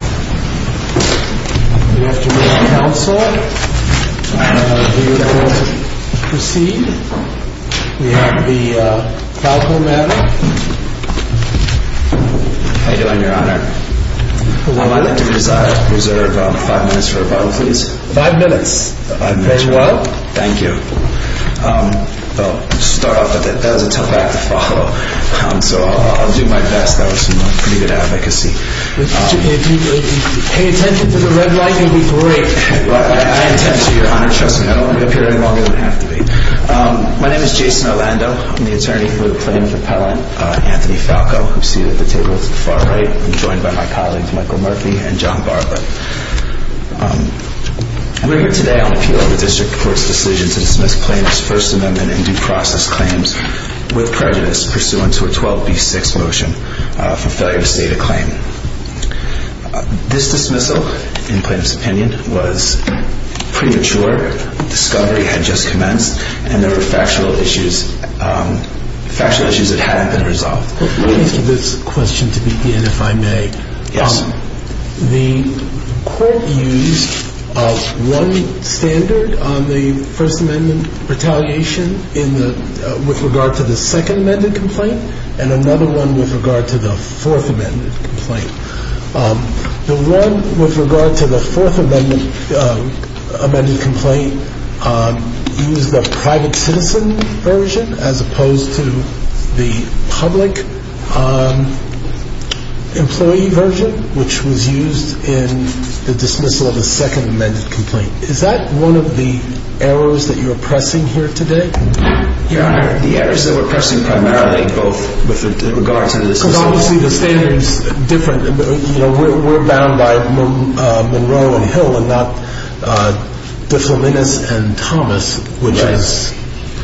How are you doing, Your Honor? Well, I'd like to reserve five minutes for a Bible study. Five minutes? Very well. Thank you. I'll start off with it. That was a tough act to follow, so I'll do my best. That was some pretty good advocacy. Pay attention to the red light. It will be great. I intend to, Your Honor. Trust me. I don't want to appear any longer than I have to be. My name is Jason Orlando. I'm the attorney for the plaintiff appellant, Anthony Falco, who is seated at the table to the far right, and joined by my colleagues Michael Murphy and John Barba. We're here today on appeal of the district court's decision to dismiss plaintiff's First Amendment and due process claims with prejudice pursuant to a 12B6 motion for failure to state a claim. This dismissal, in plaintiff's opinion, was premature. Discovery had just commenced, and there were factual issues that hadn't been resolved. Let me ask you this question to begin, if I may. Yes. The court used one standard on the First Amendment retaliation with regard to the second amended complaint, and another one with regard to the fourth amended complaint. The one with regard to the fourth amended complaint used the private citizen version, as opposed to the public employee version, which was used in the dismissal of the second amended complaint. Is that one of the errors that you're pressing here today? Your Honor, the errors that we're pressing primarily both with regards to the dismissal of the second amended complaint. Because obviously the standards are different. We're bound by Monroe and Hill and not De Flaminis and Thomas, which is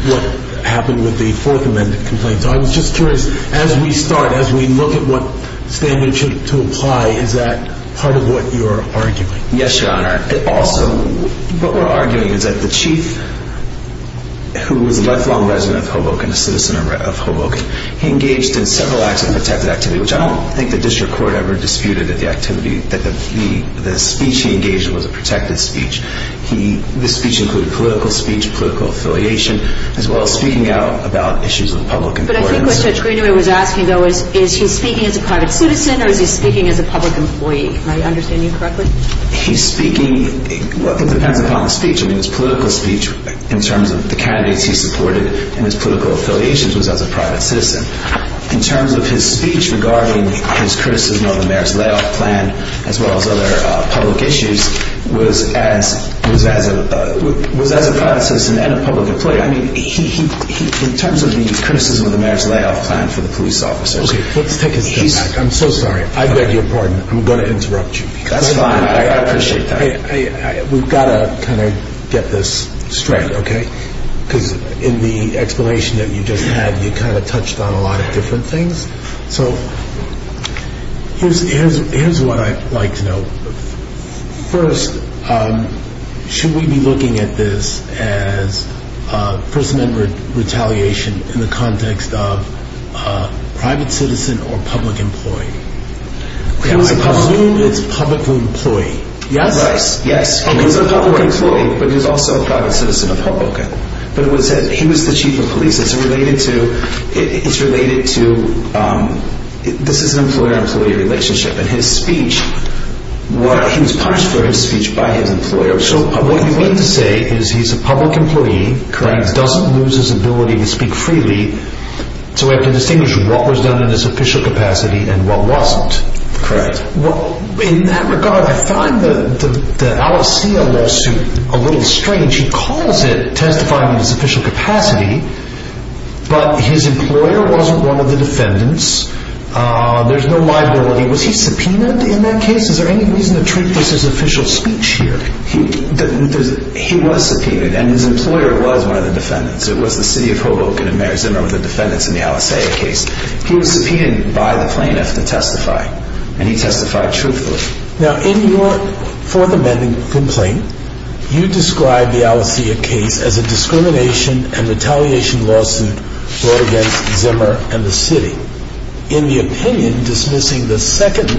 what happened with the fourth amended complaint. So I was just curious, as we start, as we look at what standard to apply, is that part of what you're arguing? Yes, Your Honor. Also, what we're arguing is that the chief, who was a lifelong resident of Hoboken, a citizen of Hoboken, he engaged in several acts of protected activity, which I don't think the district court ever disputed that the speech he engaged in was a protected speech. This speech included political speech, political affiliation, as well as speaking out about issues of public importance. But I think what Judge Greeneway was asking, though, is, is he speaking as a private citizen, or is he speaking as a public employee? Am I understanding you correctly? He's speaking, well, it depends upon the speech. I mean, his political speech, in terms of the candidates he supported and his political affiliations, was as a private citizen. In terms of his speech regarding his criticism of the marriage layoff plan, as well as other public issues, was as a private citizen and a public employee. I mean, in terms of the criticism of the marriage layoff plan for the police officers... Okay, let's take a step back. I'm so sorry. I beg your pardon. I'm going to interrupt you. That's fine. I appreciate that. We've got to kind of get this straight, okay? Because in the explanation that you just had, you kind of touched on a lot of different things. So, here's what I'd like to know. First, should we be looking at this as First Amendment retaliation in the context of private citizen or public employee? I believe it's public employee. Yes? Right. Yes. He was a public employee, but he was also a private citizen of Hoboken. Okay. But he was the chief of police. It's related to, this is an employer-employee relationship. And his speech, he was punished for his speech by his employer. So, what you mean to say is he's a public employee... Correct. ...and doesn't lose his ability to speak freely. So, we have to distinguish what was done in his official capacity and what wasn't. Correct. In that regard, I find the Alexia lawsuit a little strange. He calls it testifying in his official capacity, but his employer wasn't one of the defendants. There's no liability. Was he subpoenaed in that case? Is there any reason to treat this as official speech here? He was subpoenaed, and his employer was one of the defendants. It was the city of Hoboken, and Mayor Zimmer were the defendants in the Alexia case. He was subpoenaed by the plaintiff to testify, and he testified truthfully. Now, in your fourth amending complaint, you described the Alexia case as a discrimination and retaliation lawsuit brought against Zimmer and the city. In the opinion dismissing the second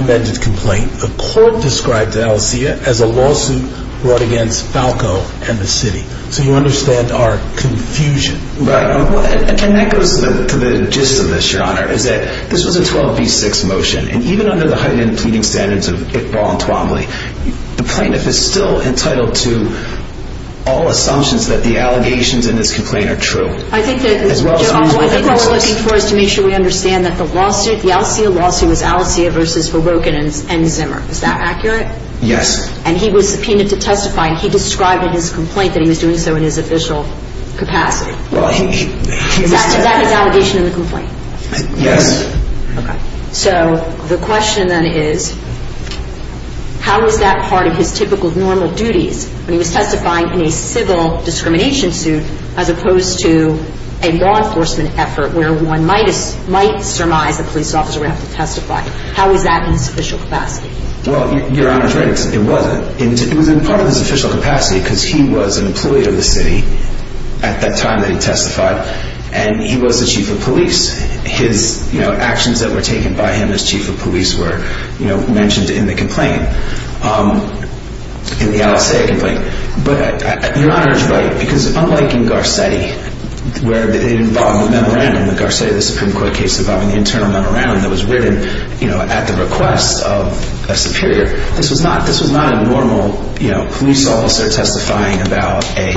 amended complaint, the court described Alexia as a lawsuit brought against Falco and the city. So, you understand our confusion. Right. And that goes to the gist of this, Your Honor, is that this was a 12-v-6 motion, and even under the heightened pleading standards of Iqbal and Twombly, the plaintiff is still entitled to all assumptions that the allegations in this complaint are true. I think that what we're looking for is to make sure we understand that the lawsuit, the Alexia lawsuit, was Alexia versus Hoboken and Zimmer. Is that accurate? Yes. And he was subpoenaed to testify, and he described in his complaint that he was doing so in his official capacity. Well, he was – Is that his allegation in the complaint? Yes. Okay. So, the question then is, how is that part of his typical normal duties when he was testifying in a civil discrimination suit as opposed to a law enforcement effort where one might surmise a police officer would have to testify? How is that in his official capacity? Well, Your Honor is right. It wasn't. It was in part of his official capacity because he was an employee of the city at that time that he testified, and he was the chief of police. His actions that were taken by him as chief of police were mentioned in the complaint, in the Alexia complaint. But Your Honor is right because unlike in Garcetti, where it involved a memorandum, the Garcetti Supreme Court case involving the internal memorandum that was written at the request of a superior, this was not a normal police officer testifying about a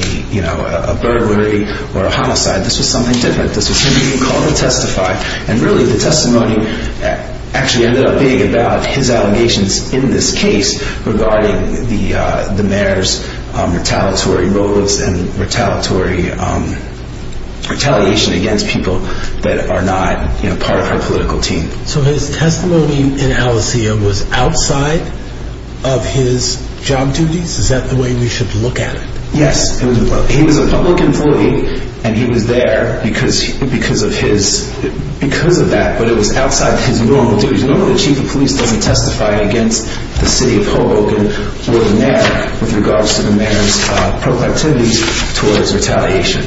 burglary or a homicide. This was something different. This was him being called to testify, and really the testimony actually ended up being about his allegations in this case regarding the mayor's retaliatory motives and retaliatory retaliation against people that are not part of our political team. So his testimony in Alexia was outside of his job duties? Is that the way we should look at it? Yes. He was a public employee, and he was there because of that, but it was outside of his normal duties. Normally the chief of police doesn't testify against the city of Hoboken or the mayor with regards to the mayor's proclivities towards retaliation.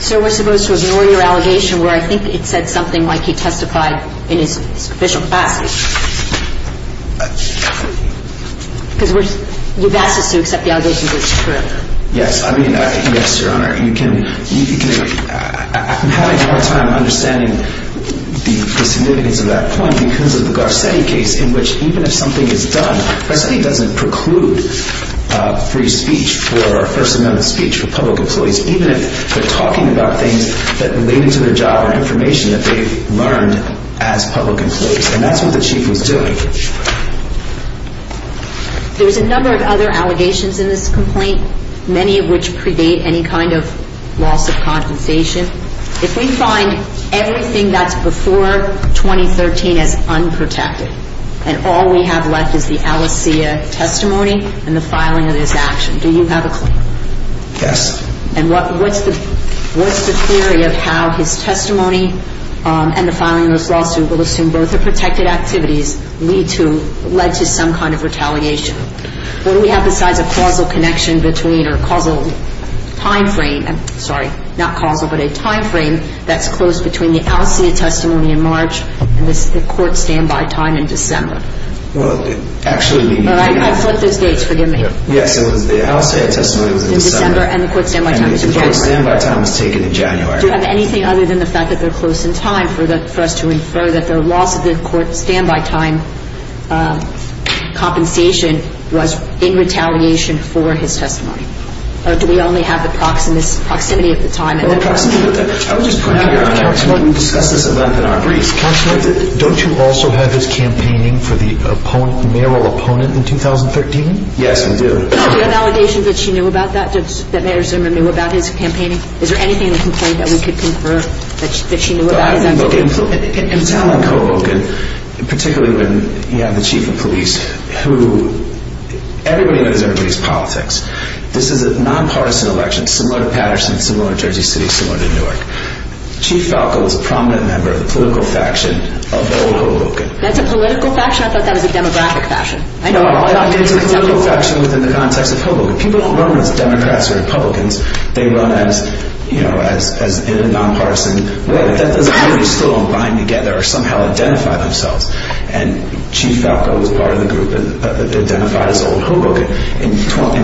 So we're supposed to ignore your allegation where I think it said something like he testified in his official capacity? Because you've asked us to accept the allegations as true. Yes, Your Honor. I'm having a hard time understanding the significance of that point because of the Garcetti case in which even if something is done, Garcetti doesn't preclude free speech or First Amendment speech for public employees, even if they're talking about things that are related to their job or information that they've learned as public employees, and that's what the chief was doing. There's a number of other allegations in this complaint, many of which predate any kind of lawsuit compensation. If we find everything that's before 2013 as unprotected and all we have left is the Alexia testimony and the filing of this action, do you have a claim? Yes. And what's the theory of how his testimony and the filing of this lawsuit will assume both are protected activities lead to some kind of retaliation? What do we have besides a causal connection between or a causal time frame, sorry, not causal, but a time frame that's close between the Alexia testimony in March and the court standby time in December? Well, it actually… All right, I flipped those dates. Forgive me. Yes, it was the Alexia testimony in December. And the court standby time in December. And the court standby time was taken in January. Do you have anything other than the fact that they're close in time for us to infer that the loss of the court standby time compensation was in retaliation for his testimony? Or do we only have the proximity of the time? The proximity of the time. I would just point out here, Your Honor, we discussed this a lot in our briefs. Counselor, don't you also have his campaigning for the mayoral opponent in 2013? Yes, we do. Is there an allegation that she knew about that, that Mayor Zimmer knew about his campaigning? Is there anything in the complaint that we could confirm that she knew about his campaign? In town on Cobolken, particularly when you have the chief of police who – everybody knows everybody's politics. This is a nonpartisan election, similar to Patterson, similar to Jersey City, similar to Newark. Chief Falco is a prominent member of the political faction of Old Cobolken. That's a political faction? I thought that was a demographic faction. No, it's a political faction within the context of Cobolken. People don't run as Democrats or Republicans. They run as, you know, in a nonpartisan way. That doesn't mean they're still unbind together or somehow identify themselves. And Chief Falco was part of the group that identified as Old Cobolken. In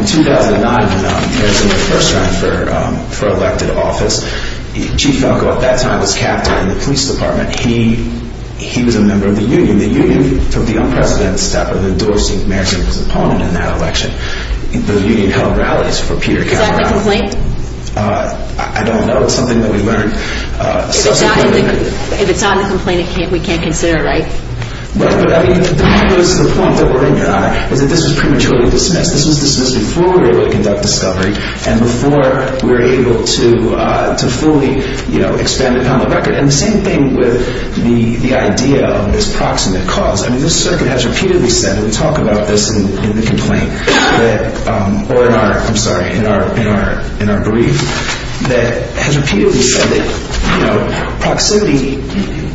2009, when Mayor Zimmer first ran for elected office, Chief Falco at that time was captain in the police department. He was a member of the union. The union took the unprecedented step of endorsing Mayor Zimmer's opponent in that election. The union held rallies for Peter Kavanaugh. Is that in the complaint? I don't know. It's something that we learned. If it's not in the complaint, we can't consider it, right? Well, I mean, that was the point that were in your honor, was that this was prematurely dismissed. This was dismissed before we were able to conduct discovery and before we were able to fully, you know, expand it on the record. And the same thing with the idea of this proximate cause. I mean, this circuit has repeatedly said, and we talk about this in the complaint or in our, I'm sorry, in our brief, that has repeatedly said that, you know, proximity,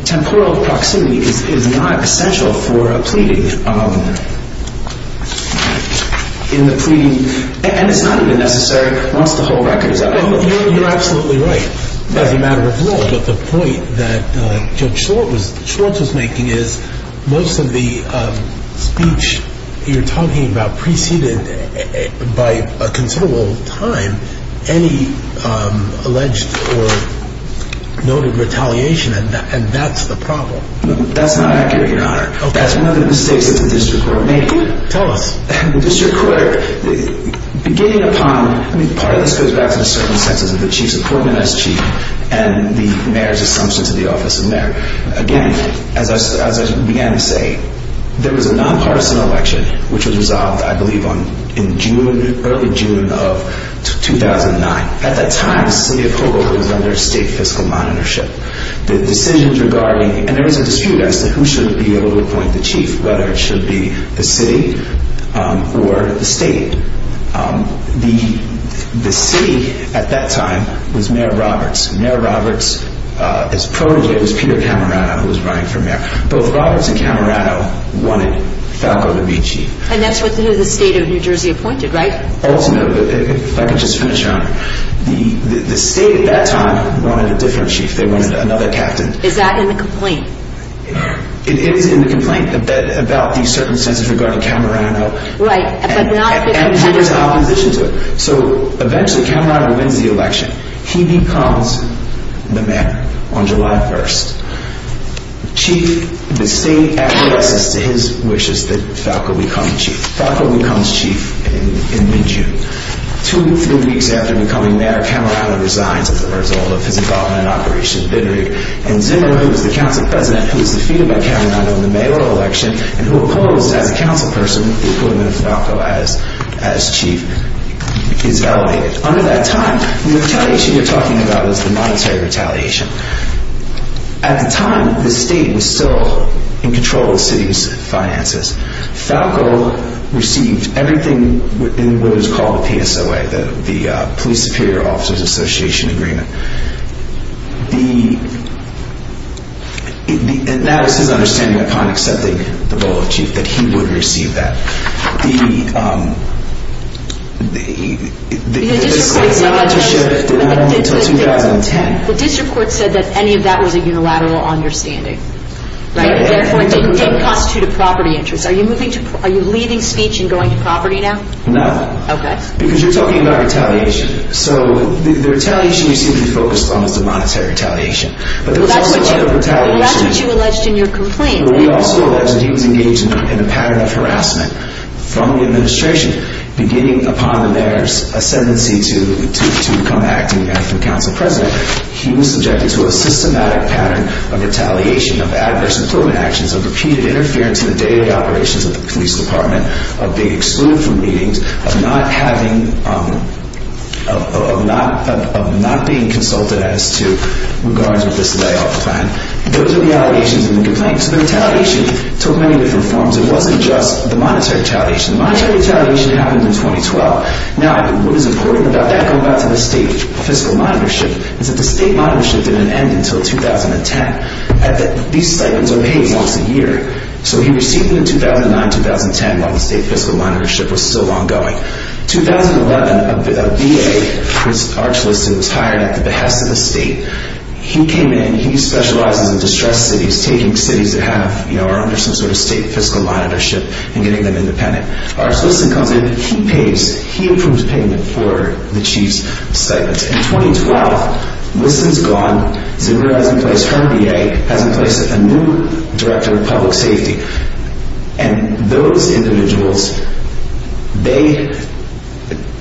temporal proximity is not essential for a pleading. In the pleading, and it's not even necessary once the whole record is up. You're absolutely right as a matter of law. But the point that Judge Schwartz was making is most of the speech you're talking about preceded by a considerable time any alleged or noted retaliation. And that's the problem. That's not accurate, your honor. That's one of the mistakes that the district court made. Tell us. The district court, beginning upon, I mean, part of this goes back to the circumstances of the chief's appointment as chief and the mayor's assumption to the office of mayor. Again, as I began to say, there was a nonpartisan election, which was resolved, I believe, in June, early June of 2009. At that time, the city of Hoboken was under state fiscal monitorship. And there was a dispute as to who should be able to appoint the chief, whether it should be the city or the state. The city at that time was Mayor Roberts. Mayor Roberts' protégé was Peter Camerato, who was running for mayor. Both Roberts and Camerato wanted Falco to be chief. And that's who the state of New Jersey appointed, right? Oh, no. If I could just finish, your honor. The state at that time wanted a different chief. They wanted another captain. Is that in the complaint? It is in the complaint about the circumstances regarding Camerato. Right. And there was opposition to it. So, eventually, Camerato wins the election. He becomes the mayor on July 1st. Chief, the state addresses to his wishes that Falco become chief. Falco becomes chief in mid-June. Two, three weeks after becoming mayor, Camerato resigns as a result of his involvement in Operation Bittrig. And Zimmer, who was the council president, who was defeated by Camerato in the mayoral election, and who opposed, as a council person, the appointment of Falco as chief, is elevated. Under that time, the retaliation you're talking about is the monetary retaliation. At the time, the state was still in control of the city's finances. Falco received everything in what is called the PSOA, the Police Superior Officers Association Agreement. That was his understanding upon accepting the role of chief, that he would receive that. The district court said that any of that was a unilateral understanding. Therefore, it didn't constitute a property interest. Are you leaving speech and going to property now? No. Because you're talking about retaliation. So, the retaliation you seem to be focused on is the monetary retaliation. That's what you alleged in your complaint. We also alleged he was engaged in a pattern of harassment from the administration. Beginning upon the mayor's ascendancy to become acting council president, he was subjected to a systematic pattern of retaliation, of adverse employment actions, of repeated interference in the daily operations of the police department, of being excluded from meetings, of not being consulted as to regards with this layoff plan. Those are the allegations in the complaint. So, the retaliation took many different forms. It wasn't just the monetary retaliation. The monetary retaliation happened in 2012. Now, what is important about that, going back to the state fiscal monitorship, is that the state monitorship didn't end until 2010. These stipends are paid once a year. So, he received them in 2009-2010 while the state fiscal monitorship was still ongoing. In 2011, a VA, Chris Archliston, was hired at the behest of the state. He came in. He specializes in distressed cities, taking cities that are under some sort of state fiscal monitorship and getting them independent. Archliston comes in. He pays. He approves payment for the chief's stipends. In 2012, Liston's gone. Zuber has replaced her VA, has replaced a new director of public safety. And those individuals, they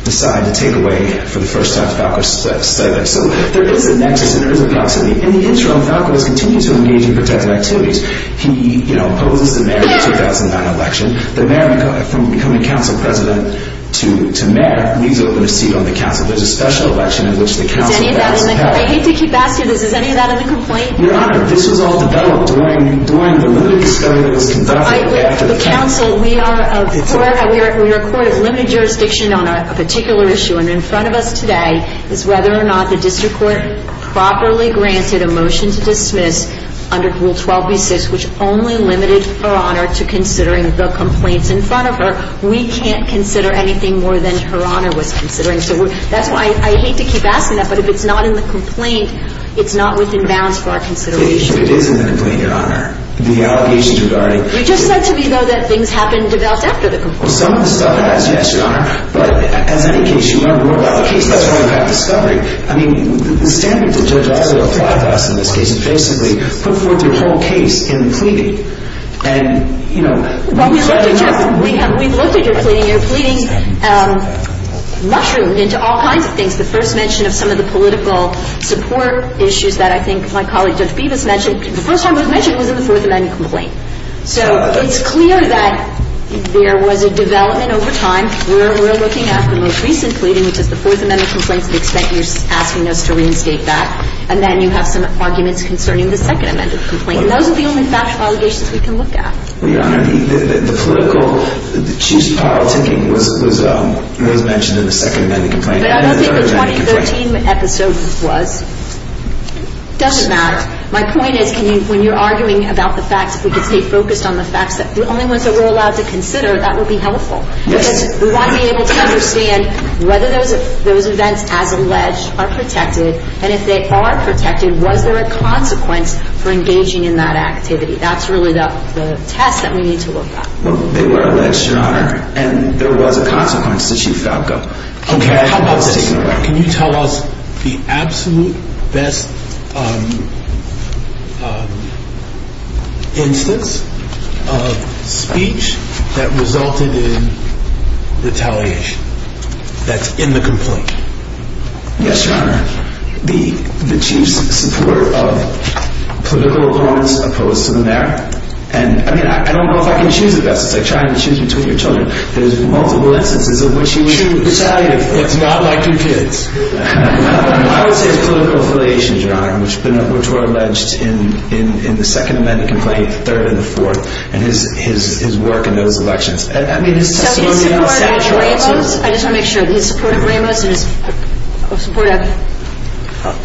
decide to take away, for the first time, Falco's stipends. So, there is a nexus and there is a proximity. In the interim, Falco has continued to engage in protective activities. He, you know, opposes the May 2009 election. The mayor, from becoming council president to mayor, leaves open a seat on the council. There's a special election in which the council has power. I hate to keep asking this. Is any of that in the complaint? Your Honor, this was all developed during the limited discussion that was conducted after the campaign. The council, we are a court of limited jurisdiction on a particular issue. And in front of us today is whether or not the district court properly granted a motion to dismiss under Rule 12b-6, which only limited Her Honor to considering the complaints in front of her. We can't consider anything more than Her Honor was considering. So, that's why I hate to keep asking that. But if it's not in the complaint, it's not within bounds for our consideration. It is in the complaint, Your Honor. The allegations regarding You just said to me, though, that things have been developed after the complaint. Some of the stuff has, yes, Your Honor. But, as any case, you learn more about the case. That's why you have discovery. I mean, the standards that Judge Osler applied to us in this case have basically put forth your whole case in pleading. And, you know, Well, we've looked at your pleading. You're pleading mushroomed into all kinds of things. The first mention of some of the political support issues that I think my colleague Judge Bevis mentioned, the first time it was mentioned was in the Fourth Amendment complaint. So, it's clear that there was a development over time. We're looking at the most recent pleading, which is the Fourth Amendment complaint, to the extent you're asking us to reinstate that. And then you have some arguments concerning the Second Amendment complaint. And those are the only factual allegations we can look at. Well, Your Honor, the political, the chief's power-taking was mentioned in the Second Amendment complaint. But I don't think the 2013 episode was. It doesn't matter. My point is, when you're arguing about the facts, if we could stay focused on the facts, the only ones that we're allowed to consider, that would be helpful. Because we want to be able to understand whether those events, as alleged, are protected. And if they are protected, was there a consequence for engaging in that activity? That's really the test that we need to look at. Well, they were alleged, Your Honor, and there was a consequence to Chief Falco. Can you tell us the absolute best instance of speech that resulted in retaliation that's in the complaint? Yes, Your Honor. The chief's support of political opponents opposed to the mayor. And, I mean, I don't know if I can choose the best. It's like trying to choose between your children. There's multiple instances in which he was retaliated for. It's not like your kids. I would say his political affiliations, Your Honor, which were alleged in the Second Amendment complaint, the third and the fourth, and his work in those elections. So his support of Ramos? I just want to make sure. His support of Ramos and his support of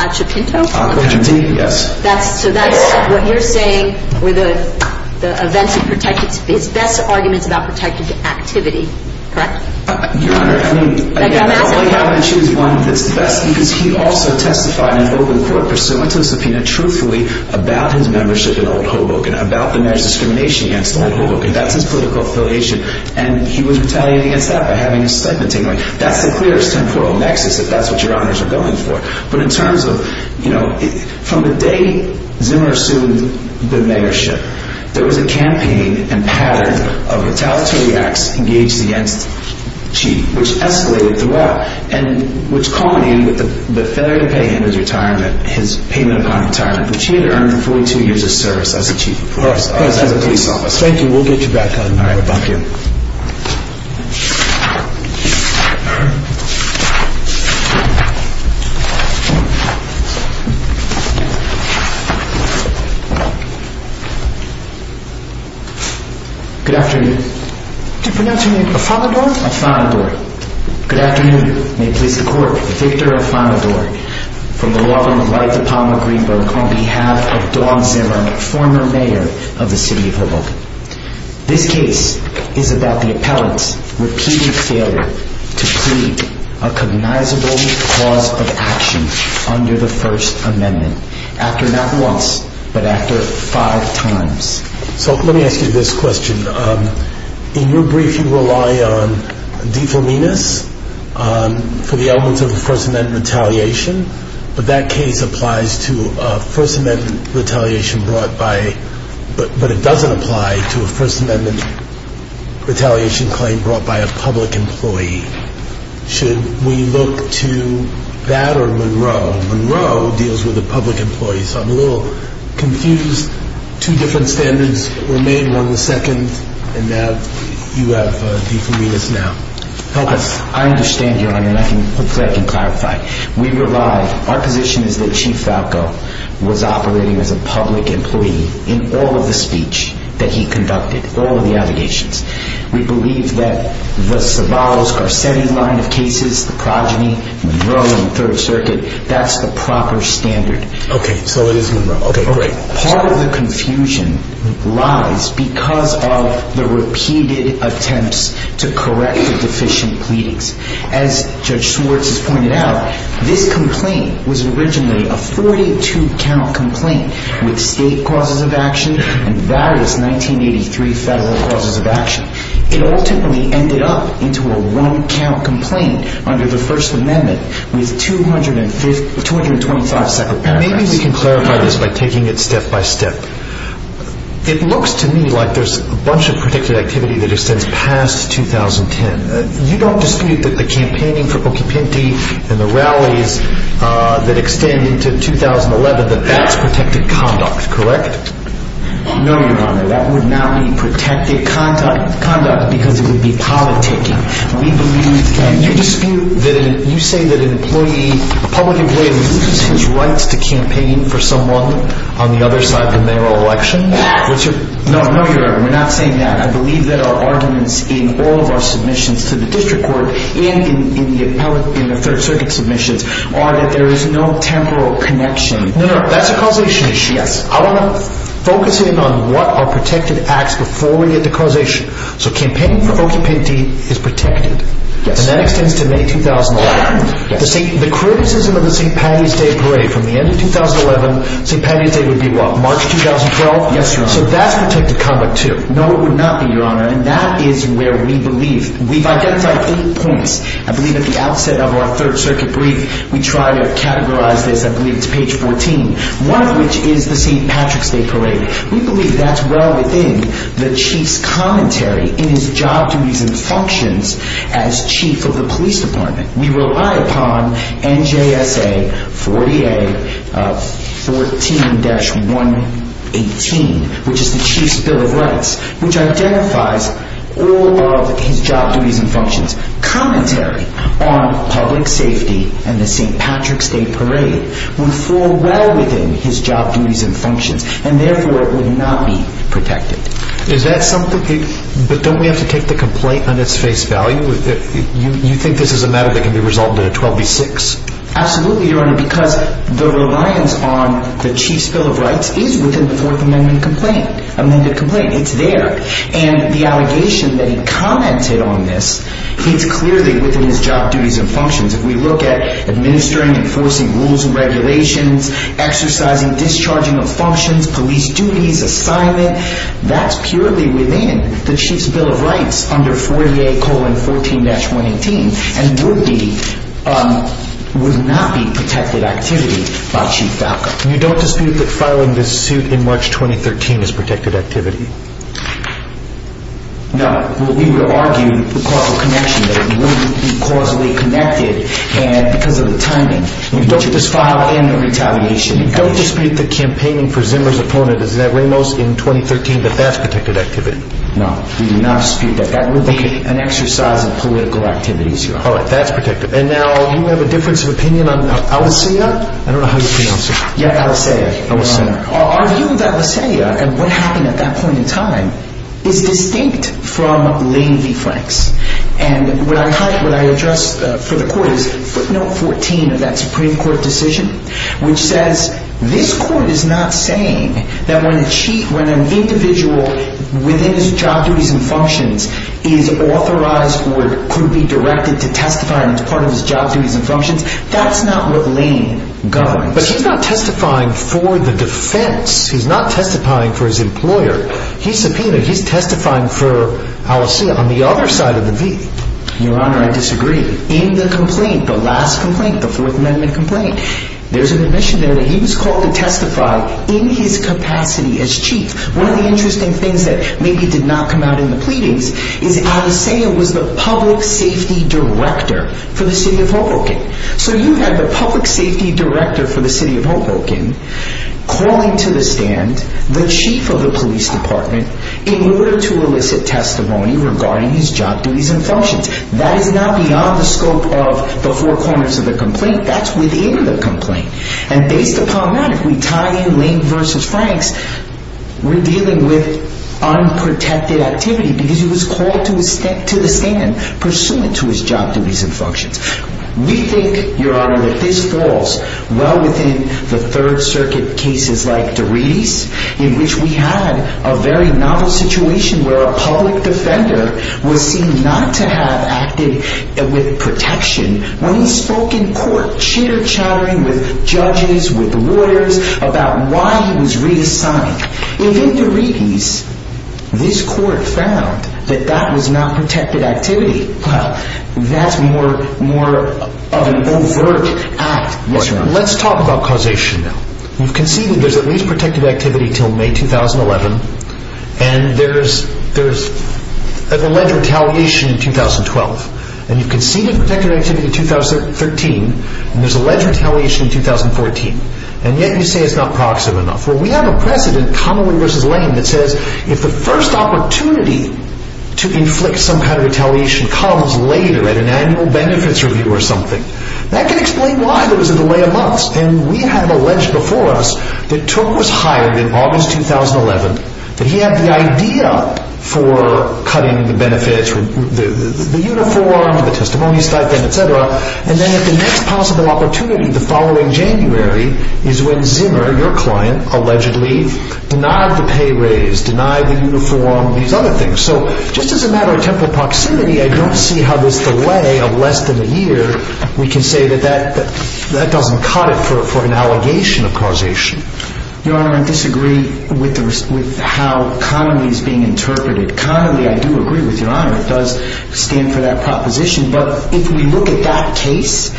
Achapinto? Achapinto, yes. So that's what you're saying were the events of his best arguments about protected activity, correct? Your Honor, I mean, again, I'm going to choose one that's the best because he also testified in open court, pursuant to the subpoena, truthfully, about his membership in Old Hoboken, about the marriage discrimination against Old Hoboken. That's his political affiliation, and he was retaliated against that by having his stipend taken away. That's the clearest temporal nexus, if that's what Your Honors are going for. But in terms of, you know, from the day Zimmer assumed the mayorship, there was a campaign and pattern of retaliatory acts engaged against Chief, which escalated throughout, and which culminated with the failure to pay him his retirement, his payment upon retirement, which he had earned for 42 years of service as a Chief of Police, as a police officer. Thank you. We'll get you back on. All right. Thank you. Thank you. Good afternoon. Do you pronounce your name Afanador? Afanador. Good afternoon. May it please the Court, Victor Afanador, from the law firm of White, DePalma, Greenberg, This case is about the appellant's repeated failure to plead a cognizable cause of action under the First Amendment, after not once, but after five times. So let me ask you this question. In your brief, you rely on defaminas for the elements of the First Amendment retaliation, but that case applies to a First Amendment retaliation brought by, but it doesn't apply to a First Amendment retaliation claim brought by a public employee. Should we look to that or Monroe? Monroe deals with the public employee, so I'm a little confused. Two different standards were made, one was second, and now you have defaminas now. Help us. I understand, Your Honor, and hopefully I can clarify. We rely, our position is that Chief Falco was operating as a public employee in all of the speech that he conducted, all of the allegations. We believe that the Savarro-Garcetti line of cases, the progeny, Monroe and Third Circuit, that's the proper standard. Okay, so it is Monroe. Part of the confusion lies because of the repeated attempts to correct the deficient pleadings. As Judge Schwartz has pointed out, this complaint was originally a 42-count complaint with state causes of action and various 1983 federal causes of action. It ultimately ended up into a one-count complaint under the First Amendment with 225 separate paragraphs. Maybe we can clarify this by taking it step by step. It looks to me like there's a bunch of predicted activity that extends past 2010. You don't dispute that the campaigning for Bocchipinti and the rallies that extend into 2011, that that's protected conduct, correct? No, Your Honor, that would not be protected conduct because it would be politicking. We believe that... You dispute that, you say that an employee, a public employee loses his rights to campaign for someone on the other side of the mayoral election? No, Your Honor, we're not saying that. I believe that our arguments in all of our submissions to the district court and in the Third Circuit submissions are that there is no temporal connection. No, no, that's a causation issue. Yes. I want to focus in on what are protected acts before we get to causation. So campaigning for Bocchipinti is protected. Yes. And that extends to May 2011. Yes. The criticism of the St. Patty's Day parade from the end of 2011, St. Patty's Day would be what, March 2012? Yes, Your Honor. So that's protected conduct too? No, it would not be, Your Honor, and that is where we believe. We've identified eight points. I believe at the outset of our Third Circuit brief, we try to categorize this, I believe it's page 14, one of which is the St. Patrick's Day parade. We believe that's well within the Chief's commentary in his job duties and functions as Chief of the Police Department. We rely upon NJSA 40A 14-118, which is the Chief's Bill of Rights, which identifies all of his job duties and functions. Commentary on public safety and the St. Patrick's Day parade would fall well within his job duties and functions, and therefore it would not be protected. Is that something that, but don't we have to take the complaint on its face value? You think this is a matter that can be resolved in a 12B6? Absolutely, Your Honor, because the reliance on the Chief's Bill of Rights is within the Fourth Amendment complaint, amended complaint, it's there. And the allegation that he commented on this, it's clearly within his job duties and functions. If we look at administering, enforcing rules and regulations, exercising, discharging of functions, police duties, assignment, that's purely within the Chief's Bill of Rights under 40A-14-118, and would not be protected activity by Chief Falco. You don't dispute that filing this suit in March 2013 is protected activity? No, we would argue the causal connection, that it would be causally connected, and because of the timing. You don't dispute the campaigning for Zimmer's opponent, is that Ramos, in 2013, that that's protected activity? No, we do not dispute that. That would be an exercise in political activities, Your Honor. All right, that's protected. And now you have a difference of opinion on Alisaia? I don't know how you pronounce it. Yeah, Alisaia. Our view of Alisaia, and what happened at that point in time, is distinct from Lane v. Franks. And what I address for the Court is footnote 14 of that Supreme Court decision, which says this Court is not saying that when an individual, within his job duties and functions, is authorized or could be directed to testify as part of his job duties and functions, that's not what Lane governs. But he's not testifying for the defense. He's not testifying for his employer. He's subpoenaed. He's testifying for Alisaia on the other side of the V. Your Honor, I disagree. In the complaint, the last complaint, the Fourth Amendment complaint, there's an admission there that he was called to testify in his capacity as chief. One of the interesting things that maybe did not come out in the pleadings is Alisaia was the public safety director for the city of Hoboken. So you have a public safety director for the city of Hoboken calling to the stand the chief of the police department in order to elicit testimony regarding his job duties and functions. That is not beyond the scope of the four corners of the complaint. That's within the complaint. And based upon that, if we tie in Lane v. Franks, we're dealing with unprotected activity because he was called to the stand pursuant to his job duties and functions. We think, Your Honor, that this falls well within the Third Circuit cases like De Redis, in which we had a very novel situation where a public defender was seen not to have acted with protection when he spoke in court, chitter-chattering with judges, with lawyers about why he was reassigned. If in De Redis, this court found that that was not protected activity, well, that's more of an overt act. Let's talk about causation now. You've conceded there's at least protected activity until May 2011, and there's alleged retaliation in 2012. And you've conceded protected activity in 2013, and there's alleged retaliation in 2014. And yet you say it's not proximate enough. Well, we have a precedent, Connolly v. Lane, that says if the first opportunity to inflict some kind of retaliation comes later at an annual benefits review or something, that can explain why there was a delay of months. And we have alleged before us that Tooke was hired in August 2011, that he had the idea for cutting the benefits, the uniform, the testimony stipend, etc. And then at the next possible opportunity, the following January, is when Zimmer, your client, allegedly denied the pay raise, denied the uniform, these other things. So just as a matter of temporal proximity, I don't see how this delay of less than a year, we can say that that doesn't cut it for an allegation of causation. Your Honor, I disagree with how Connolly is being interpreted. Connolly, I do agree with Your Honor, it does stand for that proposition. But if we look at that case,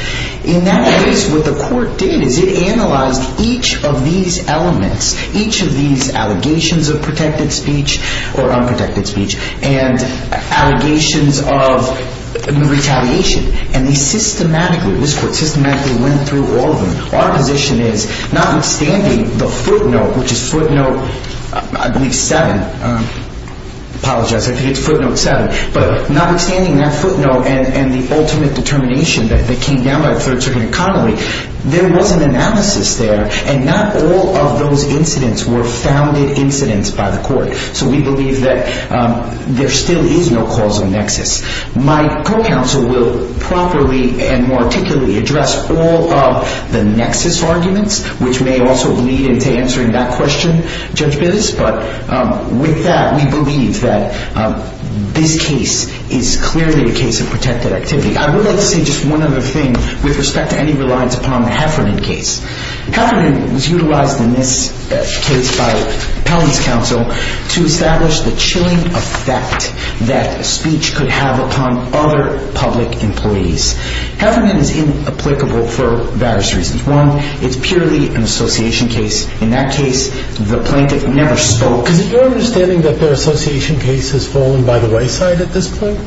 in that case, what the court did is it analyzed each of these elements, each of these allegations of protected speech or unprotected speech, and allegations of retaliation. And they systematically, this court systematically went through all of them. Our position is, notwithstanding the footnote, which is footnote 7, I apologize if it's footnote 7. But notwithstanding that footnote and the ultimate determination that came down by the third circuit in Connolly, there was an analysis there, and not all of those incidents were founded incidents by the court. So we believe that there still is no causal nexus. My co-counsel will properly and more articulately address all of the nexus arguments, which may also lead into answering that question, Judge Bittes. But with that, we believe that this case is clearly a case of protected activity. I would like to say just one other thing with respect to any reliance upon the Heffernan case. Heffernan was utilized in this case by Pelham's counsel to establish the chilling effect that speech could have upon other public employees. Heffernan is inapplicable for various reasons. One, it's purely an association case. In that case, the plaintiff never spoke. Is it your understanding that their association case has fallen by the wayside at this point?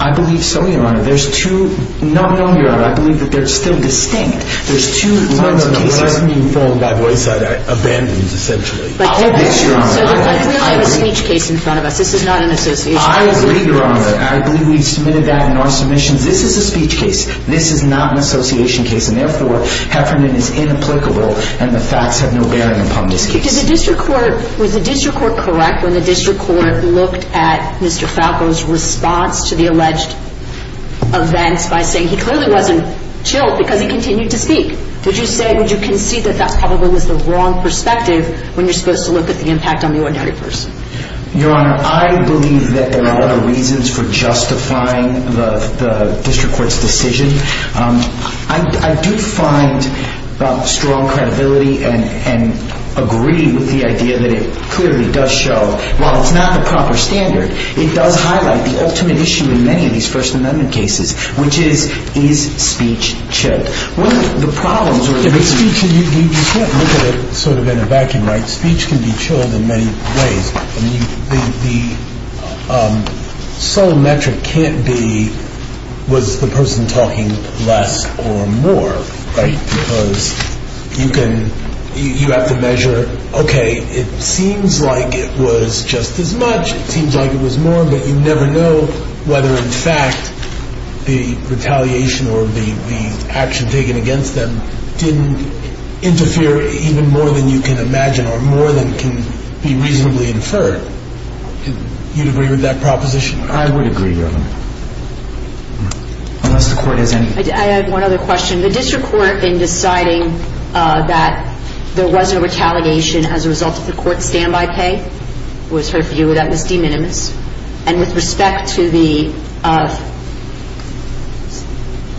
I believe so, Your Honor. There's two – no, no, Your Honor. I believe that they're still distinct. There's two runs of cases. No, no, no. They're not being fallen by wayside. Abandoned, essentially. I hope that's true, Your Honor. But we have a speech case in front of us. This is not an association case. I agree, Your Honor. I believe we've submitted that in our submissions. This is a speech case. This is not an association case. And therefore, Heffernan is inapplicable, and the facts have no bearing upon this case. Was the district court correct when the district court looked at Mr. Falco's response to the alleged events by saying he clearly wasn't chilled because he continued to speak? Would you say – would you concede that that probably was the wrong perspective when you're supposed to look at the impact on the ordinary person? Your Honor, I believe that there are other reasons for justifying the district court's decision. I do find strong credibility and agree with the idea that it clearly does show, while it's not the proper standard, it does highlight the ultimate issue in many of these First Amendment cases, which is, is speech chilled? You can't look at it sort of in a vacuum, right? Speech can be chilled in many ways. I mean, the sole metric can't be, was the person talking less or more, right? You have to measure, okay, it seems like it was just as much, it seems like it was more, but you never know whether, in fact, the retaliation or the action taken against them didn't interfere even more than you can imagine or more than can be reasonably inferred. Do you agree with that proposition? I would agree, Your Honor. Unless the court has any... I have one other question. The district court, in deciding that there was no retaliation as a result of the court's standby pay, was her view that was de minimis. And with respect to the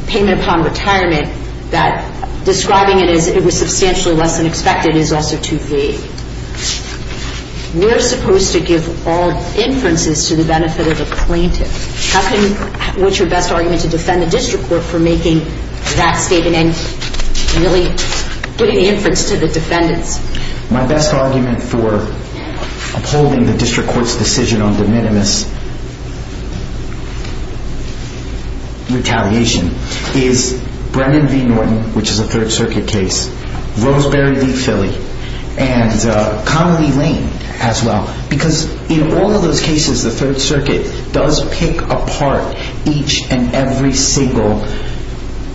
payment upon retirement, that describing it as it was substantially less than expected is also too vague. We're supposed to give all inferences to the benefit of a plaintiff. How can, what's your best argument to defend the district court for making that statement and really putting inference to the defendants? My best argument for upholding the district court's decision on de minimis retaliation is Brendan v. Norton, which is a Third Circuit case, Roseberry v. Philly, and Connelly Lane as well, because in all of those cases, the Third Circuit does pick apart each and every single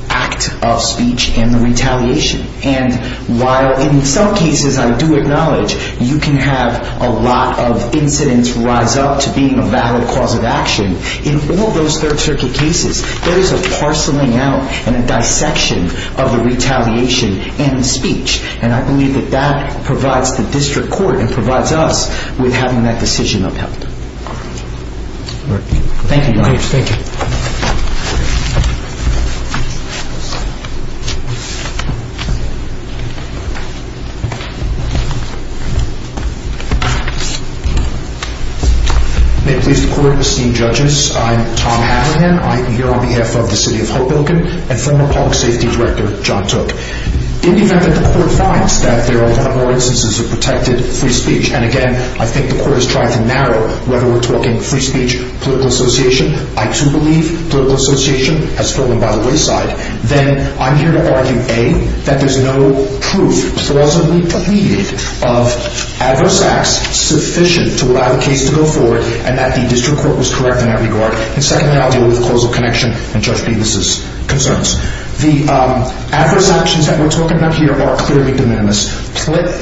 act of speech in the retaliation. And while in some cases I do acknowledge you can have a lot of incidents rise up to being a valid cause of action, in all those Third Circuit cases, there is a parceling out and a dissection of the retaliation and the speech. And I believe that that provides the district court and provides us with having that decision upheld. Thank you, Your Honor. Thank you. May it please the court, esteemed judges, I'm Tom Abraham. I'm here on behalf of the city of Hoboken and former public safety director John Took. In the event that the court finds that there are a lot more instances of protected free speech, and again, I think the court is trying to narrow whether we're talking free speech, political association, I too believe political association has fallen by the wayside, then I'm here to argue, A, that there's no proof, plausibly pleaded, of adverse acts sufficient to allow the case to go forward and that the district court was correct in that regard. And secondly, I'll deal with causal connection and Judge Bevis' concerns. The adverse actions that we're talking about here are clearly de minimis.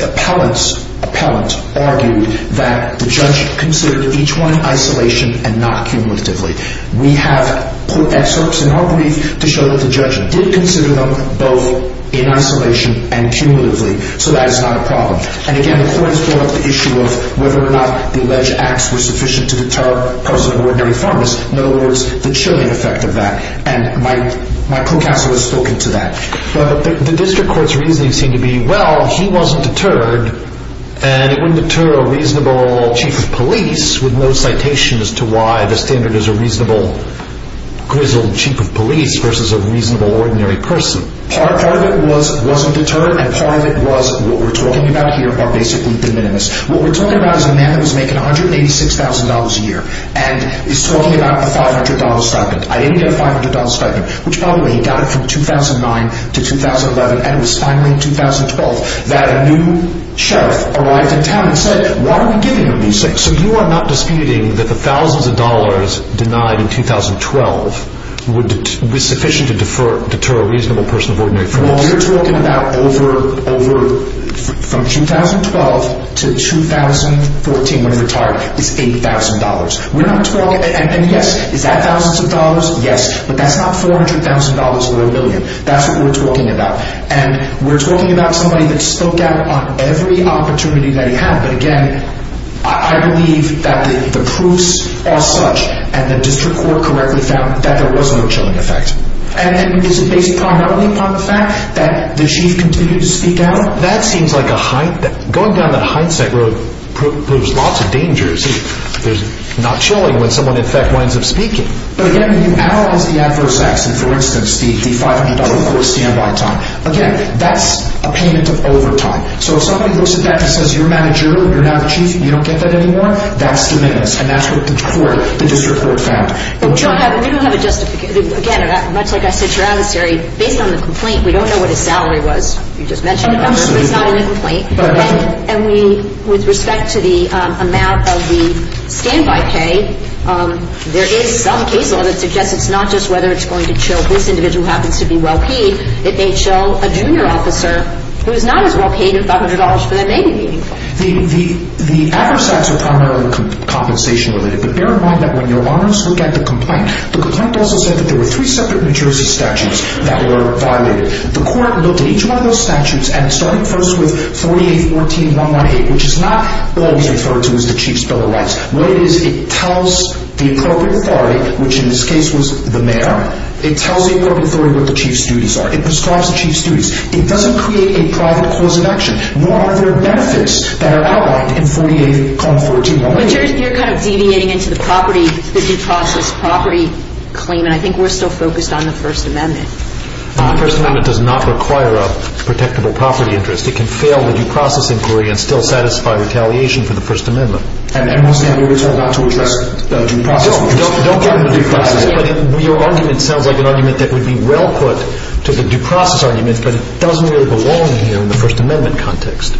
Appellant's appellant argued that the judge considered each one in isolation and not cumulatively. We have put excerpts in our brief to show that the judge did consider them both in isolation and cumulatively. So that is not a problem. And again, the court has brought up the issue of whether or not the alleged acts were sufficient to deter a person of ordinary firmness. In other words, the chilling effect of that. And my clue castle has spoken to that. The district court's reasoning seemed to be, well, he wasn't deterred and it wouldn't deter a reasonable chief of police with no citation as to why the standard is a reasonable grizzled chief of police versus a reasonable ordinary person. Part of it was it wasn't deterred and part of it was what we're talking about here are basically de minimis. What we're talking about is a man who was making $186,000 a year and is talking about a $500 stipend. Which, by the way, he got it from 2009 to 2011 and it was finally in 2012 that a new sheriff arrived in town and said, why are we giving him $186,000? So you are not disputing that the thousands of dollars denied in 2012 would be sufficient to deter a reasonable person of ordinary firmness? Well, what you're talking about over from 2012 to 2014 when he retired is $8,000. We're not talking. And yes, is that thousands of dollars? Yes, but that's not $400,000 or a million. That's what we're talking about. And we're talking about somebody that spoke out on every opportunity that he had. But again, I believe that the proofs are such and the district court correctly found that there was no chilling effect. And is it based primarily on the fact that the chief continued to speak out? Going down that hindsight road proves lots of dangers. There's not chilling when someone, in fact, winds up speaking. But again, you analyze the adverse acts and, for instance, the $500 for a standby time. Again, that's a payment of overtime. So if somebody looks at that and says, you're a manager, you're now the chief, you don't get that anymore, that's diminished. And that's what the court, the district court found. We don't have a justification. Again, much like I said to your adversary, based on the complaint, we don't know what his salary was. You just mentioned it. But it's not in the complaint. And with respect to the amount of the standby pay, there is some case law that suggests it's not just whether it's going to chill this individual who happens to be well paid. It may chill a junior officer who is not as well paid, and $500 for that may be meaningful. The adverse acts are primarily compensation related. But bear in mind that when your honors look at the complaint, the complaint also said that there were three separate New Jersey statutes that were violated. The court looked at each one of those statutes and it started first with 4814198, which is not always referred to as the chief's bill of rights. What it is, it tells the appropriate authority, which in this case was the mayor. It tells the appropriate authority what the chief's duties are. It prescribes the chief's duties. It doesn't create a private clause of action, nor are there benefits that are outlined in 4814198. But you're kind of deviating into the property, the due process property claim. And I think we're still focused on the First Amendment. The First Amendment does not require a protectable property interest. It can fail the due process inquiry and still satisfy retaliation for the First Amendment. And it must have a reason not to address the due process. Don't get into due process. But your argument sounds like an argument that would be well put to the due process argument, but it doesn't really belong here in the First Amendment context.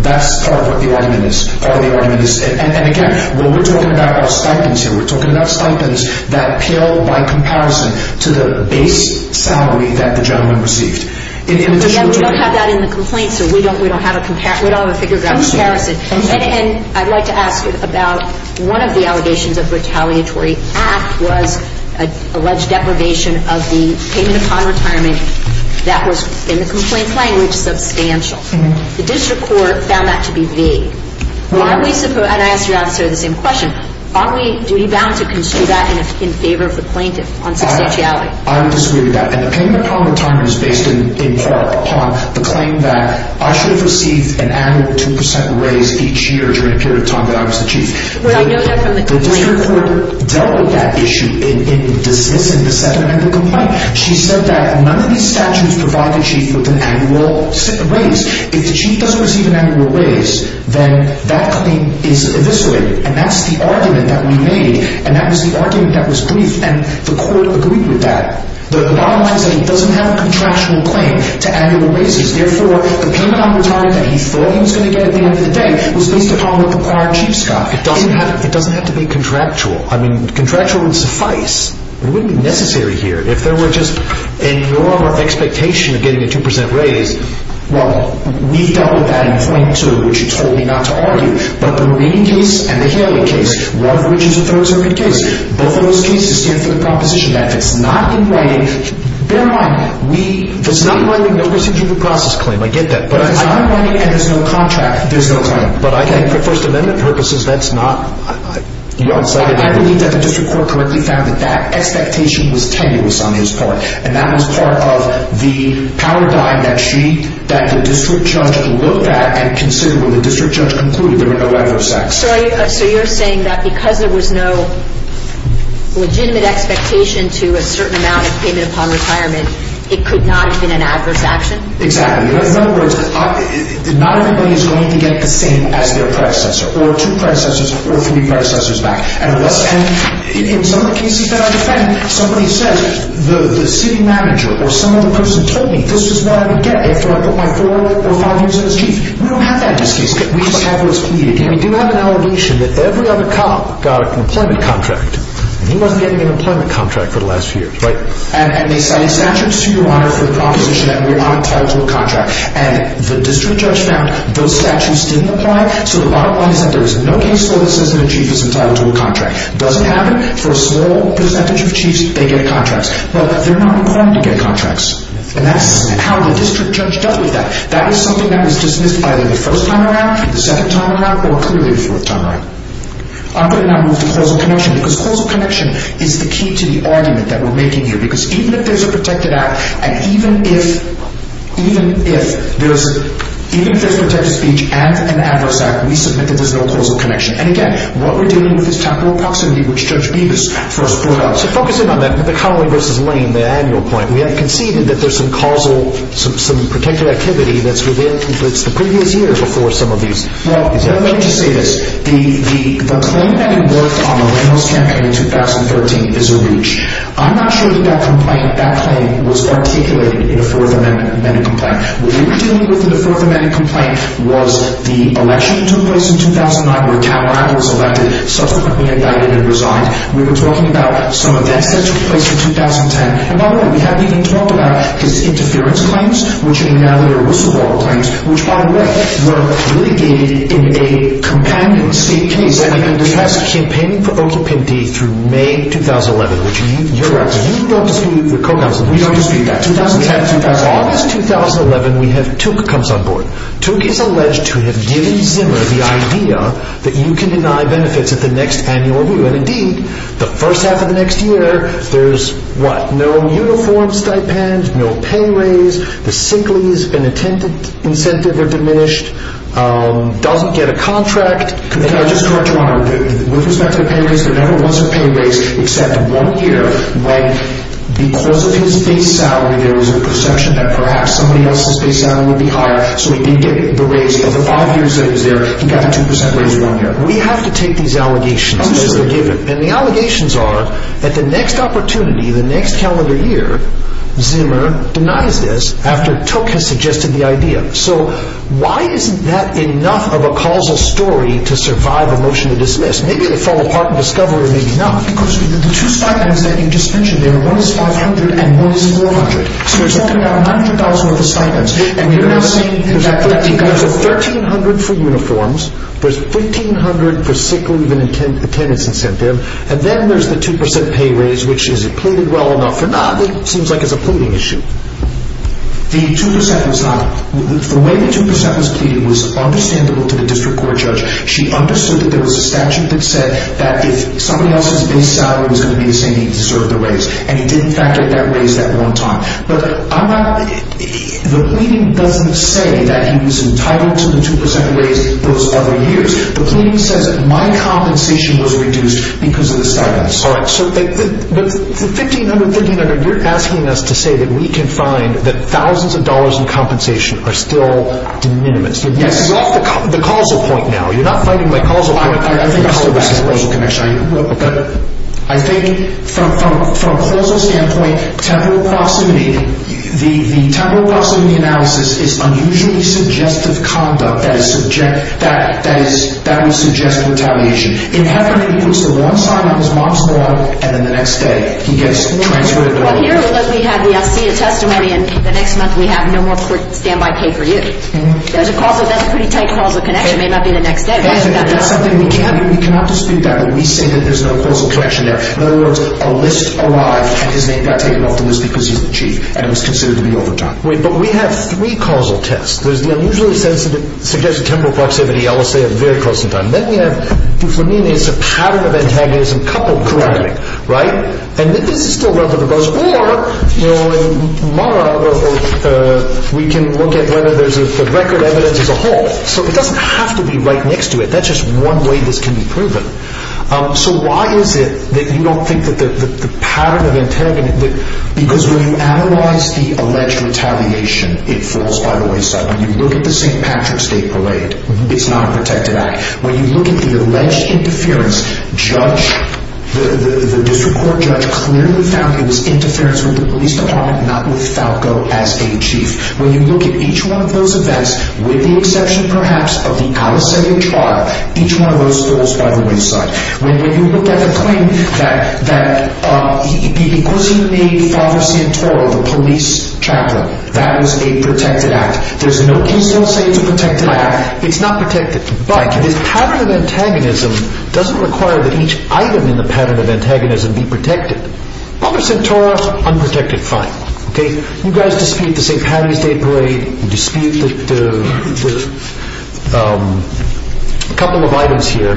That's kind of what the argument is. And again, what we're talking about are stipends here. We're talking about stipends that appeal by comparison to the base salary that the gentleman received. We don't have that in the complaint, sir. We don't have a figure of comparison. And I'd like to ask you about one of the allegations of retaliatory act was alleged deprivation of the payment upon retirement that was, in the complaint language, substantial. The district court found that to be vague. And I ask you to answer the same question. Are we duty bound to construe that in favor of the plaintiff on substantiality? I disagree with that. And the payment upon retirement is based in part upon the claim that I should have received an annual 2% raise each year during a period of time that I was the chief. I know that from the complaint. The district court dealt with that issue in dismissing the Second Amendment complaint. She said that none of these statutes provide the chief with an annual raise. If the chief doesn't receive an annual raise, then that claim is eviscerated. And that's the argument that we made. And that was the argument that was briefed. And the court agreed with that. The bottom line is that he doesn't have a contractual claim to annual raises. Therefore, the payment upon retirement that he thought he was going to get at the end of the day was based upon what the bar chiefs got. It doesn't have to be contractual. I mean, contractual would suffice. It wouldn't be necessary here. If there were just a norm of expectation of getting a 2% raise. Well, we dealt with that in point 2, which you told me not to argue. But the Marine case and the Haley case, one of which is a third circuit case, both of those cases stand for the proposition that if it's not in writing. Bear in mind, if it's not in writing, there's no procedure to process claim. I get that. But if it's not in writing and there's no contract, there's no claim. But I think for First Amendment purposes, that's not. I believe that the district court correctly found that that expectation was tenuous on his part. And that was part of the paradigm that she, that the district judge, looked at and considered when the district judge concluded there were no adverse acts. So you're saying that because there was no legitimate expectation to a certain amount of payment upon retirement, it could not have been an adverse action? Exactly. In other words, not everybody is going to get the same as their predecessor, or two predecessors, or three predecessors back. And in some of the cases that I defend, somebody says, the city manager or some other person told me this is what I would get after I put my four or five years in as chief. We don't have that in this case. We just have what's pleaded. And we do have an allegation that every other cop got an employment contract. And he wasn't getting an employment contract for the last few years, right? And they cited statutes to your honor for the proposition that we're not entitled to a contract. And the district judge found those statutes didn't apply. So the bottom line is that there is no case law that says that a chief is entitled to a contract. Does it happen? For a small percentage of chiefs, they get contracts. But they're not required to get contracts. And that's how the district judge dealt with that. That is something that was dismissed either the first time around, the second time around, or clearly the fourth time around. I'm going to now move to causal connection. Because causal connection is the key to the argument that we're making here. Because even if there's a protected act, and even if there's protected speech and an adverse act, we submit that there's no causal connection. And again, what we're dealing with is temporal proximity, which Judge Bevis first brought up. So focus in on that. The Connelly v. Lane, the annual point. We have conceded that there's some causal, some protected activity that's within, that's the previous year before some of these. Well, let me just say this. The claim that he worked on the Reynolds campaign in 2013 is a reach. I'm not sure that that complaint, that claim, was articulated in a Fourth Amendment complaint. What they were dealing with in the Fourth Amendment complaint was the election that took place in 2009, where Calabro was elected, subsequently indicted and resigned. We were talking about some events that took place in 2010. And by the way, we haven't even talked about his interference claims, which are now Whistleblower claims, which, by the way, were litigated in a companion state case. We have campaigning for occupancy through May 2011, which you're acting. You don't dispute the co-counsel. We don't dispute that. August 2011, we have Took comes on board. Took is alleged to have given Zimmer the idea that you can deny benefits at the next annual review. And indeed, the first half of the next year, there's what, no uniform stipends, no pay raise. The singlies incentive are diminished. Doesn't get a contract. Can I just correct you on that? With respect to the pay raise, there never was a pay raise, except one year, when because of his base salary, there was a perception that perhaps somebody else's base salary would be higher. So he did get the raise. Of the five years that he was there, he got a 2% raise one year. We have to take these allegations. I'm sorry. Those are given. And the allegations are that the next opportunity, the next calendar year, Zimmer denies this after Took has suggested the idea. So why isn't that enough of a causal story to survive a motion to dismiss? Maybe they fall apart in discovery or maybe not. Because the two stipends that you just mentioned, one is $500 and one is $400. So there's only about $900 worth of stipends. There's $1,300 for uniforms. There's $1,500 for sick leave and attendance incentive. And then there's the 2% pay raise, which is it pleaded well enough or not? It seems like it's a pleading issue. The 2% was not. The way the 2% was pleaded was understandable to the district court judge. She understood that there was a statute that said that if somebody else's base salary was going to be the same, he deserved the raise. And he did, in fact, get that raise that one time. But the pleading doesn't say that he was entitled to the 2% raise those other years. The pleading says that my compensation was reduced because of the stipends. All right. So the $1,500, $1,300, you're asking us to say that we can find that thousands of dollars in compensation are still de minimis. Yes. You're off the causal point now. You're not fighting my causal point. I think from a causal standpoint, temporal proximity, the temporal proximity analysis is unusually suggestive conduct that would suggest retaliation. It happens to one side on his mom's law, and then the next day he gets transferred. Well, here we have the FCA testimony, and the next month we have no more stand-by pay for you. That's a pretty tight causal connection. It may not be the next day. That's something we cannot dispute. We say that there's no causal connection there. In other words, a list arrived, and his name got taken off the list because he's the chief, and it was considered to be overdone. But we have three causal tests. There's the unusually suggestive temporal proximity, I will say, of very close in time. Then we have, for me, it's a pattern of antagonism coupled correctly. Right? And this is still relevant, or we can look at whether there's a record evidence as a whole. So it doesn't have to be right next to it. That's just one way this can be proven. So why is it that you don't think that the pattern of antagonism, because when you analyze the alleged retaliation, it falls by the wayside. When you look at the St. Patrick's Day Parade, it's not a protected act. When you look at the alleged interference, the district court judge clearly found it was interference with the police department, not with Falco as a chief. When you look at each one of those events, with the exception, perhaps, of the Aliseo trial, each one of those falls by the wayside. When you look at the claim that because he made Father Santoro the police chaplain, that was a protected act. There's no reason to say it's a protected act. It's not protected. But this pattern of antagonism doesn't require that each item in the pattern of antagonism be protected. Father Santoro, unprotected, fine. You guys dispute the St. Patrick's Day Parade, you dispute a couple of items here,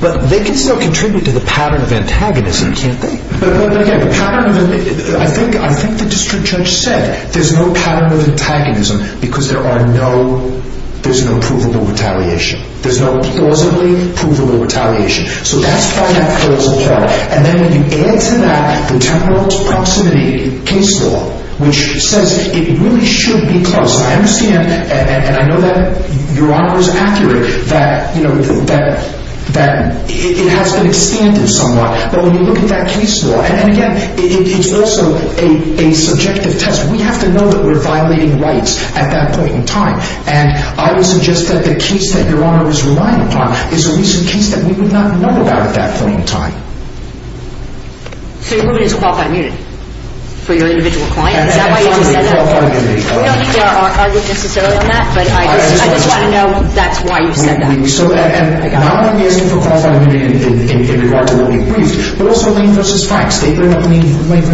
but they can still contribute to the pattern of antagonism, can't they? I think the district judge said there's no pattern of antagonism because there's no provable retaliation. There's no plausibly provable retaliation. So that's why that curves as well. And then when you add to that the temporal proximity case law, which says it really should be closed. I understand, and I know that Your Honor is accurate, that it has been extended somewhat. But when you look at that case law, and again, it's also a subjective test. We have to know that we're violating rights at that point in time. And I would suggest that the case that Your Honor was relying upon is a recent case that we would not know about at that point in time. So your ruling is qualified immunity for your individual client? Is that why you just said that? I don't think there are arguments necessarily on that, but I just want to know that's why you said that. Not only is it for qualified immunity in regard to what we've briefed, but also lame versus facts. And lame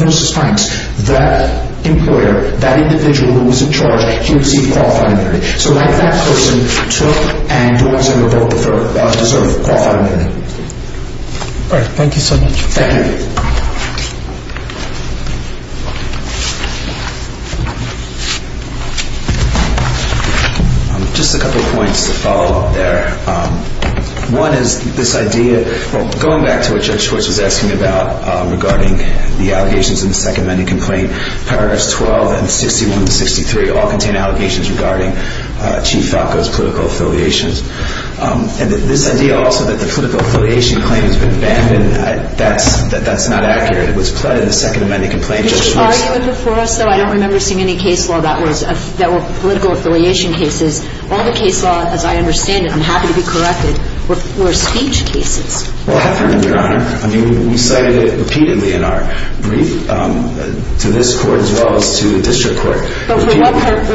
versus facts. That employer, that individual who was in charge, he received qualified immunity. So that person took and deserves qualified immunity. All right. Thank you so much. Thank you. Just a couple of points to follow up there. One is this idea, going back to what Judge Schwartz was asking about regarding the allegations in the second amendment complaint, paragraphs 12 and 61 and 63 all contain allegations regarding Chief Falco's political affiliations. And this idea also that the political affiliation claim has been banned, that's not accurate. It was plotted in the second amendment complaint. Judge Schwartz. Before us, though, I don't remember seeing any case law that were political affiliation cases. All the case law, as I understand it, I'm happy to be corrected, were speech cases. Well, Your Honor, I mean, we cited it repeatedly in our brief to this Court as well as to the District Court. But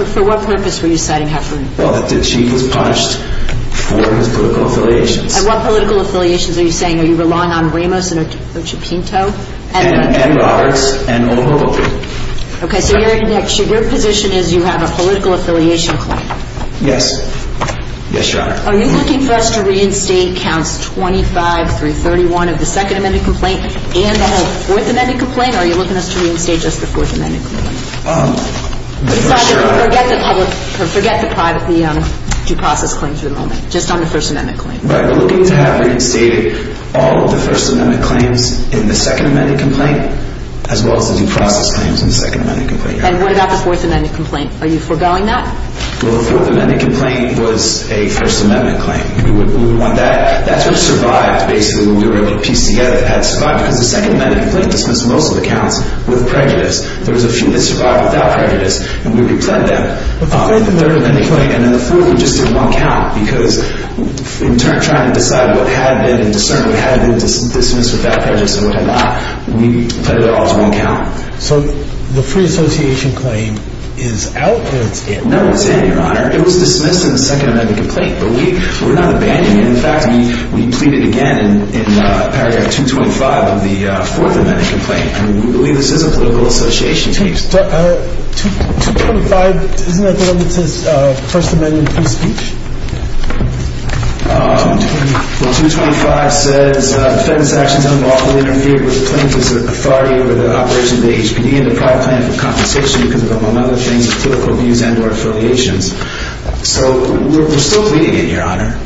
for what purpose were you citing Heffernan? Well, that the Chief is punished for his political affiliations. And what political affiliations are you saying? Are you relying on Ramos and Occipinto? And Roberts and O'Rourke. Okay. So your position is you have a political affiliation claim. Yes. Yes, Your Honor. Are you looking for us to reinstate counts 25 through 31 of the second amendment complaint and the whole fourth amendment complaint? Or are you looking for us to reinstate just the fourth amendment complaint? I'm not sure. Forget the privately due process claims for the moment, just on the first amendment claim. Right. We're looking to have reinstated all of the first amendment claims in the second amendment complaint as well as the due process claims in the second amendment complaint. And what about the fourth amendment complaint? Are you foregoing that? Well, the fourth amendment complaint was a first amendment claim. We would want that. That sort of survived basically when we were able to piece together. It had survived because the second amendment complaint dismissed most of the counts with prejudice. There was a few that survived without prejudice, and we replanted them. The third amendment complaint and the fourth were just in one count because we were trying to decide what had been and discern what had been dismissed without prejudice and what had not. We put it all in one count. So the free association claim is out or it's in? No, it's in, Your Honor. It was dismissed in the second amendment complaint, but we're not abandoning it. In fact, we plead it again in paragraph 225 of the fourth amendment complaint, and we believe this is a political association case. 225, isn't that the one that says first amendment free speech? 225 says defendant's actions unlawfully interfered with plaintiff's authority over the operation of the HPD and deprived plaintiff of compensation because of, among other things, political views and or affiliations. So we're still pleading it, Your Honor.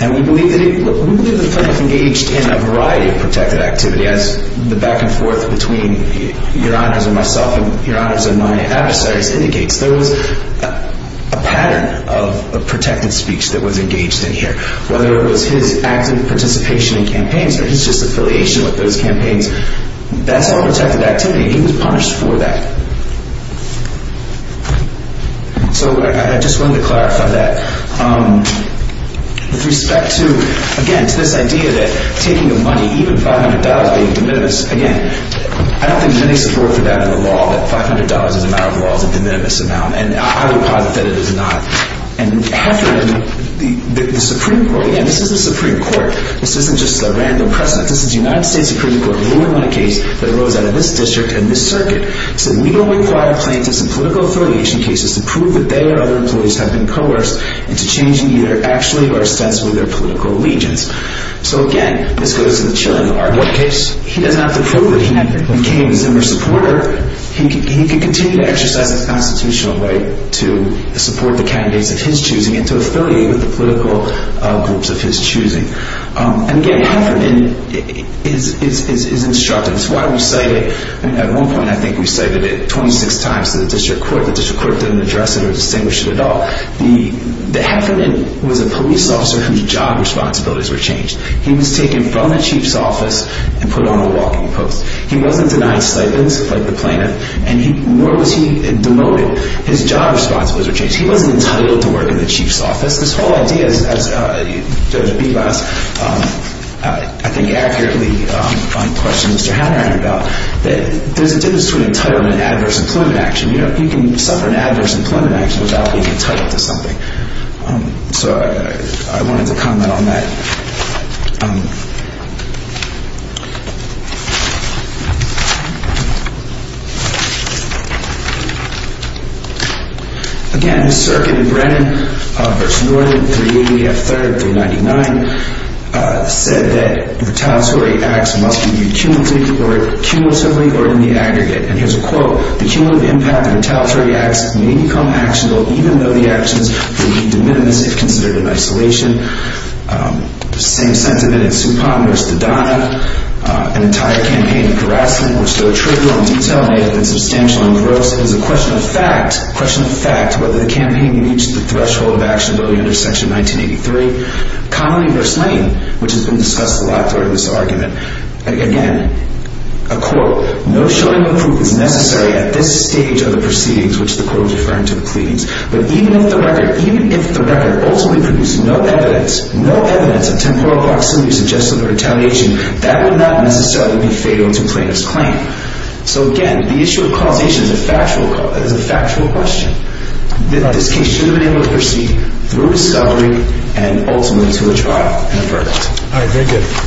And we believe the plaintiff engaged in a variety of protected activity, as the back and forth between Your Honors and myself and Your Honors and my adversaries indicates. There was a pattern of protected speech that was engaged in here, whether it was his active participation in campaigns or his just affiliation with those campaigns. That's all protected activity. He was punished for that. So I just wanted to clarify that. With respect to, again, to this idea that taking the money, even $500 being de minimis, again, I don't think there's any support for that in the law, that $500 as a matter of law is a de minimis amount. And I would posit that it is not. And after that, the Supreme Court, again, this is the Supreme Court. This isn't just a random precedent. This is the United States Supreme Court ruling on a case that arose out of this district and this circuit. It said we don't require plaintiffs in political affiliation cases to prove that they or other employees have been coerced into changing either actually or ostensibly their political allegiance. So, again, this goes to the chilling argument. What case? He doesn't have to prove it. He became a Zimmer supporter. He can continue to exercise his constitutional right to support the candidates of his choosing and to affiliate with the political groups of his choosing. And, again, Heffernan is instructive. It's why we cite it. At one point, I think we cited it 26 times to the district court. The district court didn't address it or distinguish it at all. The Heffernan was a police officer whose job responsibilities were changed. He was taken from the chief's office and put on the walking post. He wasn't denied stipends, like the plaintiff, and nor was he demoted. His job responsibilities were changed. He wasn't entitled to work in the chief's office. This whole idea, as Judge Bebas, I think, accurately questioned Mr. Hanrahan about, that there's a difference between entitlement and adverse employment action. You can suffer an adverse employment action without being entitled to something. So I wanted to comment on that. Again, Circuit in Brennan v. Norton, 380 F. 3rd, 399, said that retaliatory acts must be viewed cumulatively or in the aggregate. And here's a quote. The cumulative impact of retaliatory acts may become actionable even though the actions will be de minimis if considered in isolation. Same sentiment in Supong v. Dodonna. An entire campaign of harassing, which, though trivial in detail, may have been substantial and gross, is a question of fact whether the campaign reached the threshold of actionability under Section 1983. Connolly v. Lane, which has been discussed a lot during this argument. Again, a quote. No showing of proof is necessary at this stage of the proceedings, which the quote is referring to the pleadings. But even if the record ultimately produced no evidence of temporal proximity suggested for retaliation, that would not necessarily be fatal to plaintiff's claim. So, again, the issue of causation is a factual question. This case should have been able to proceed through discovery and ultimately to a trial and a verdict. All right, thank you.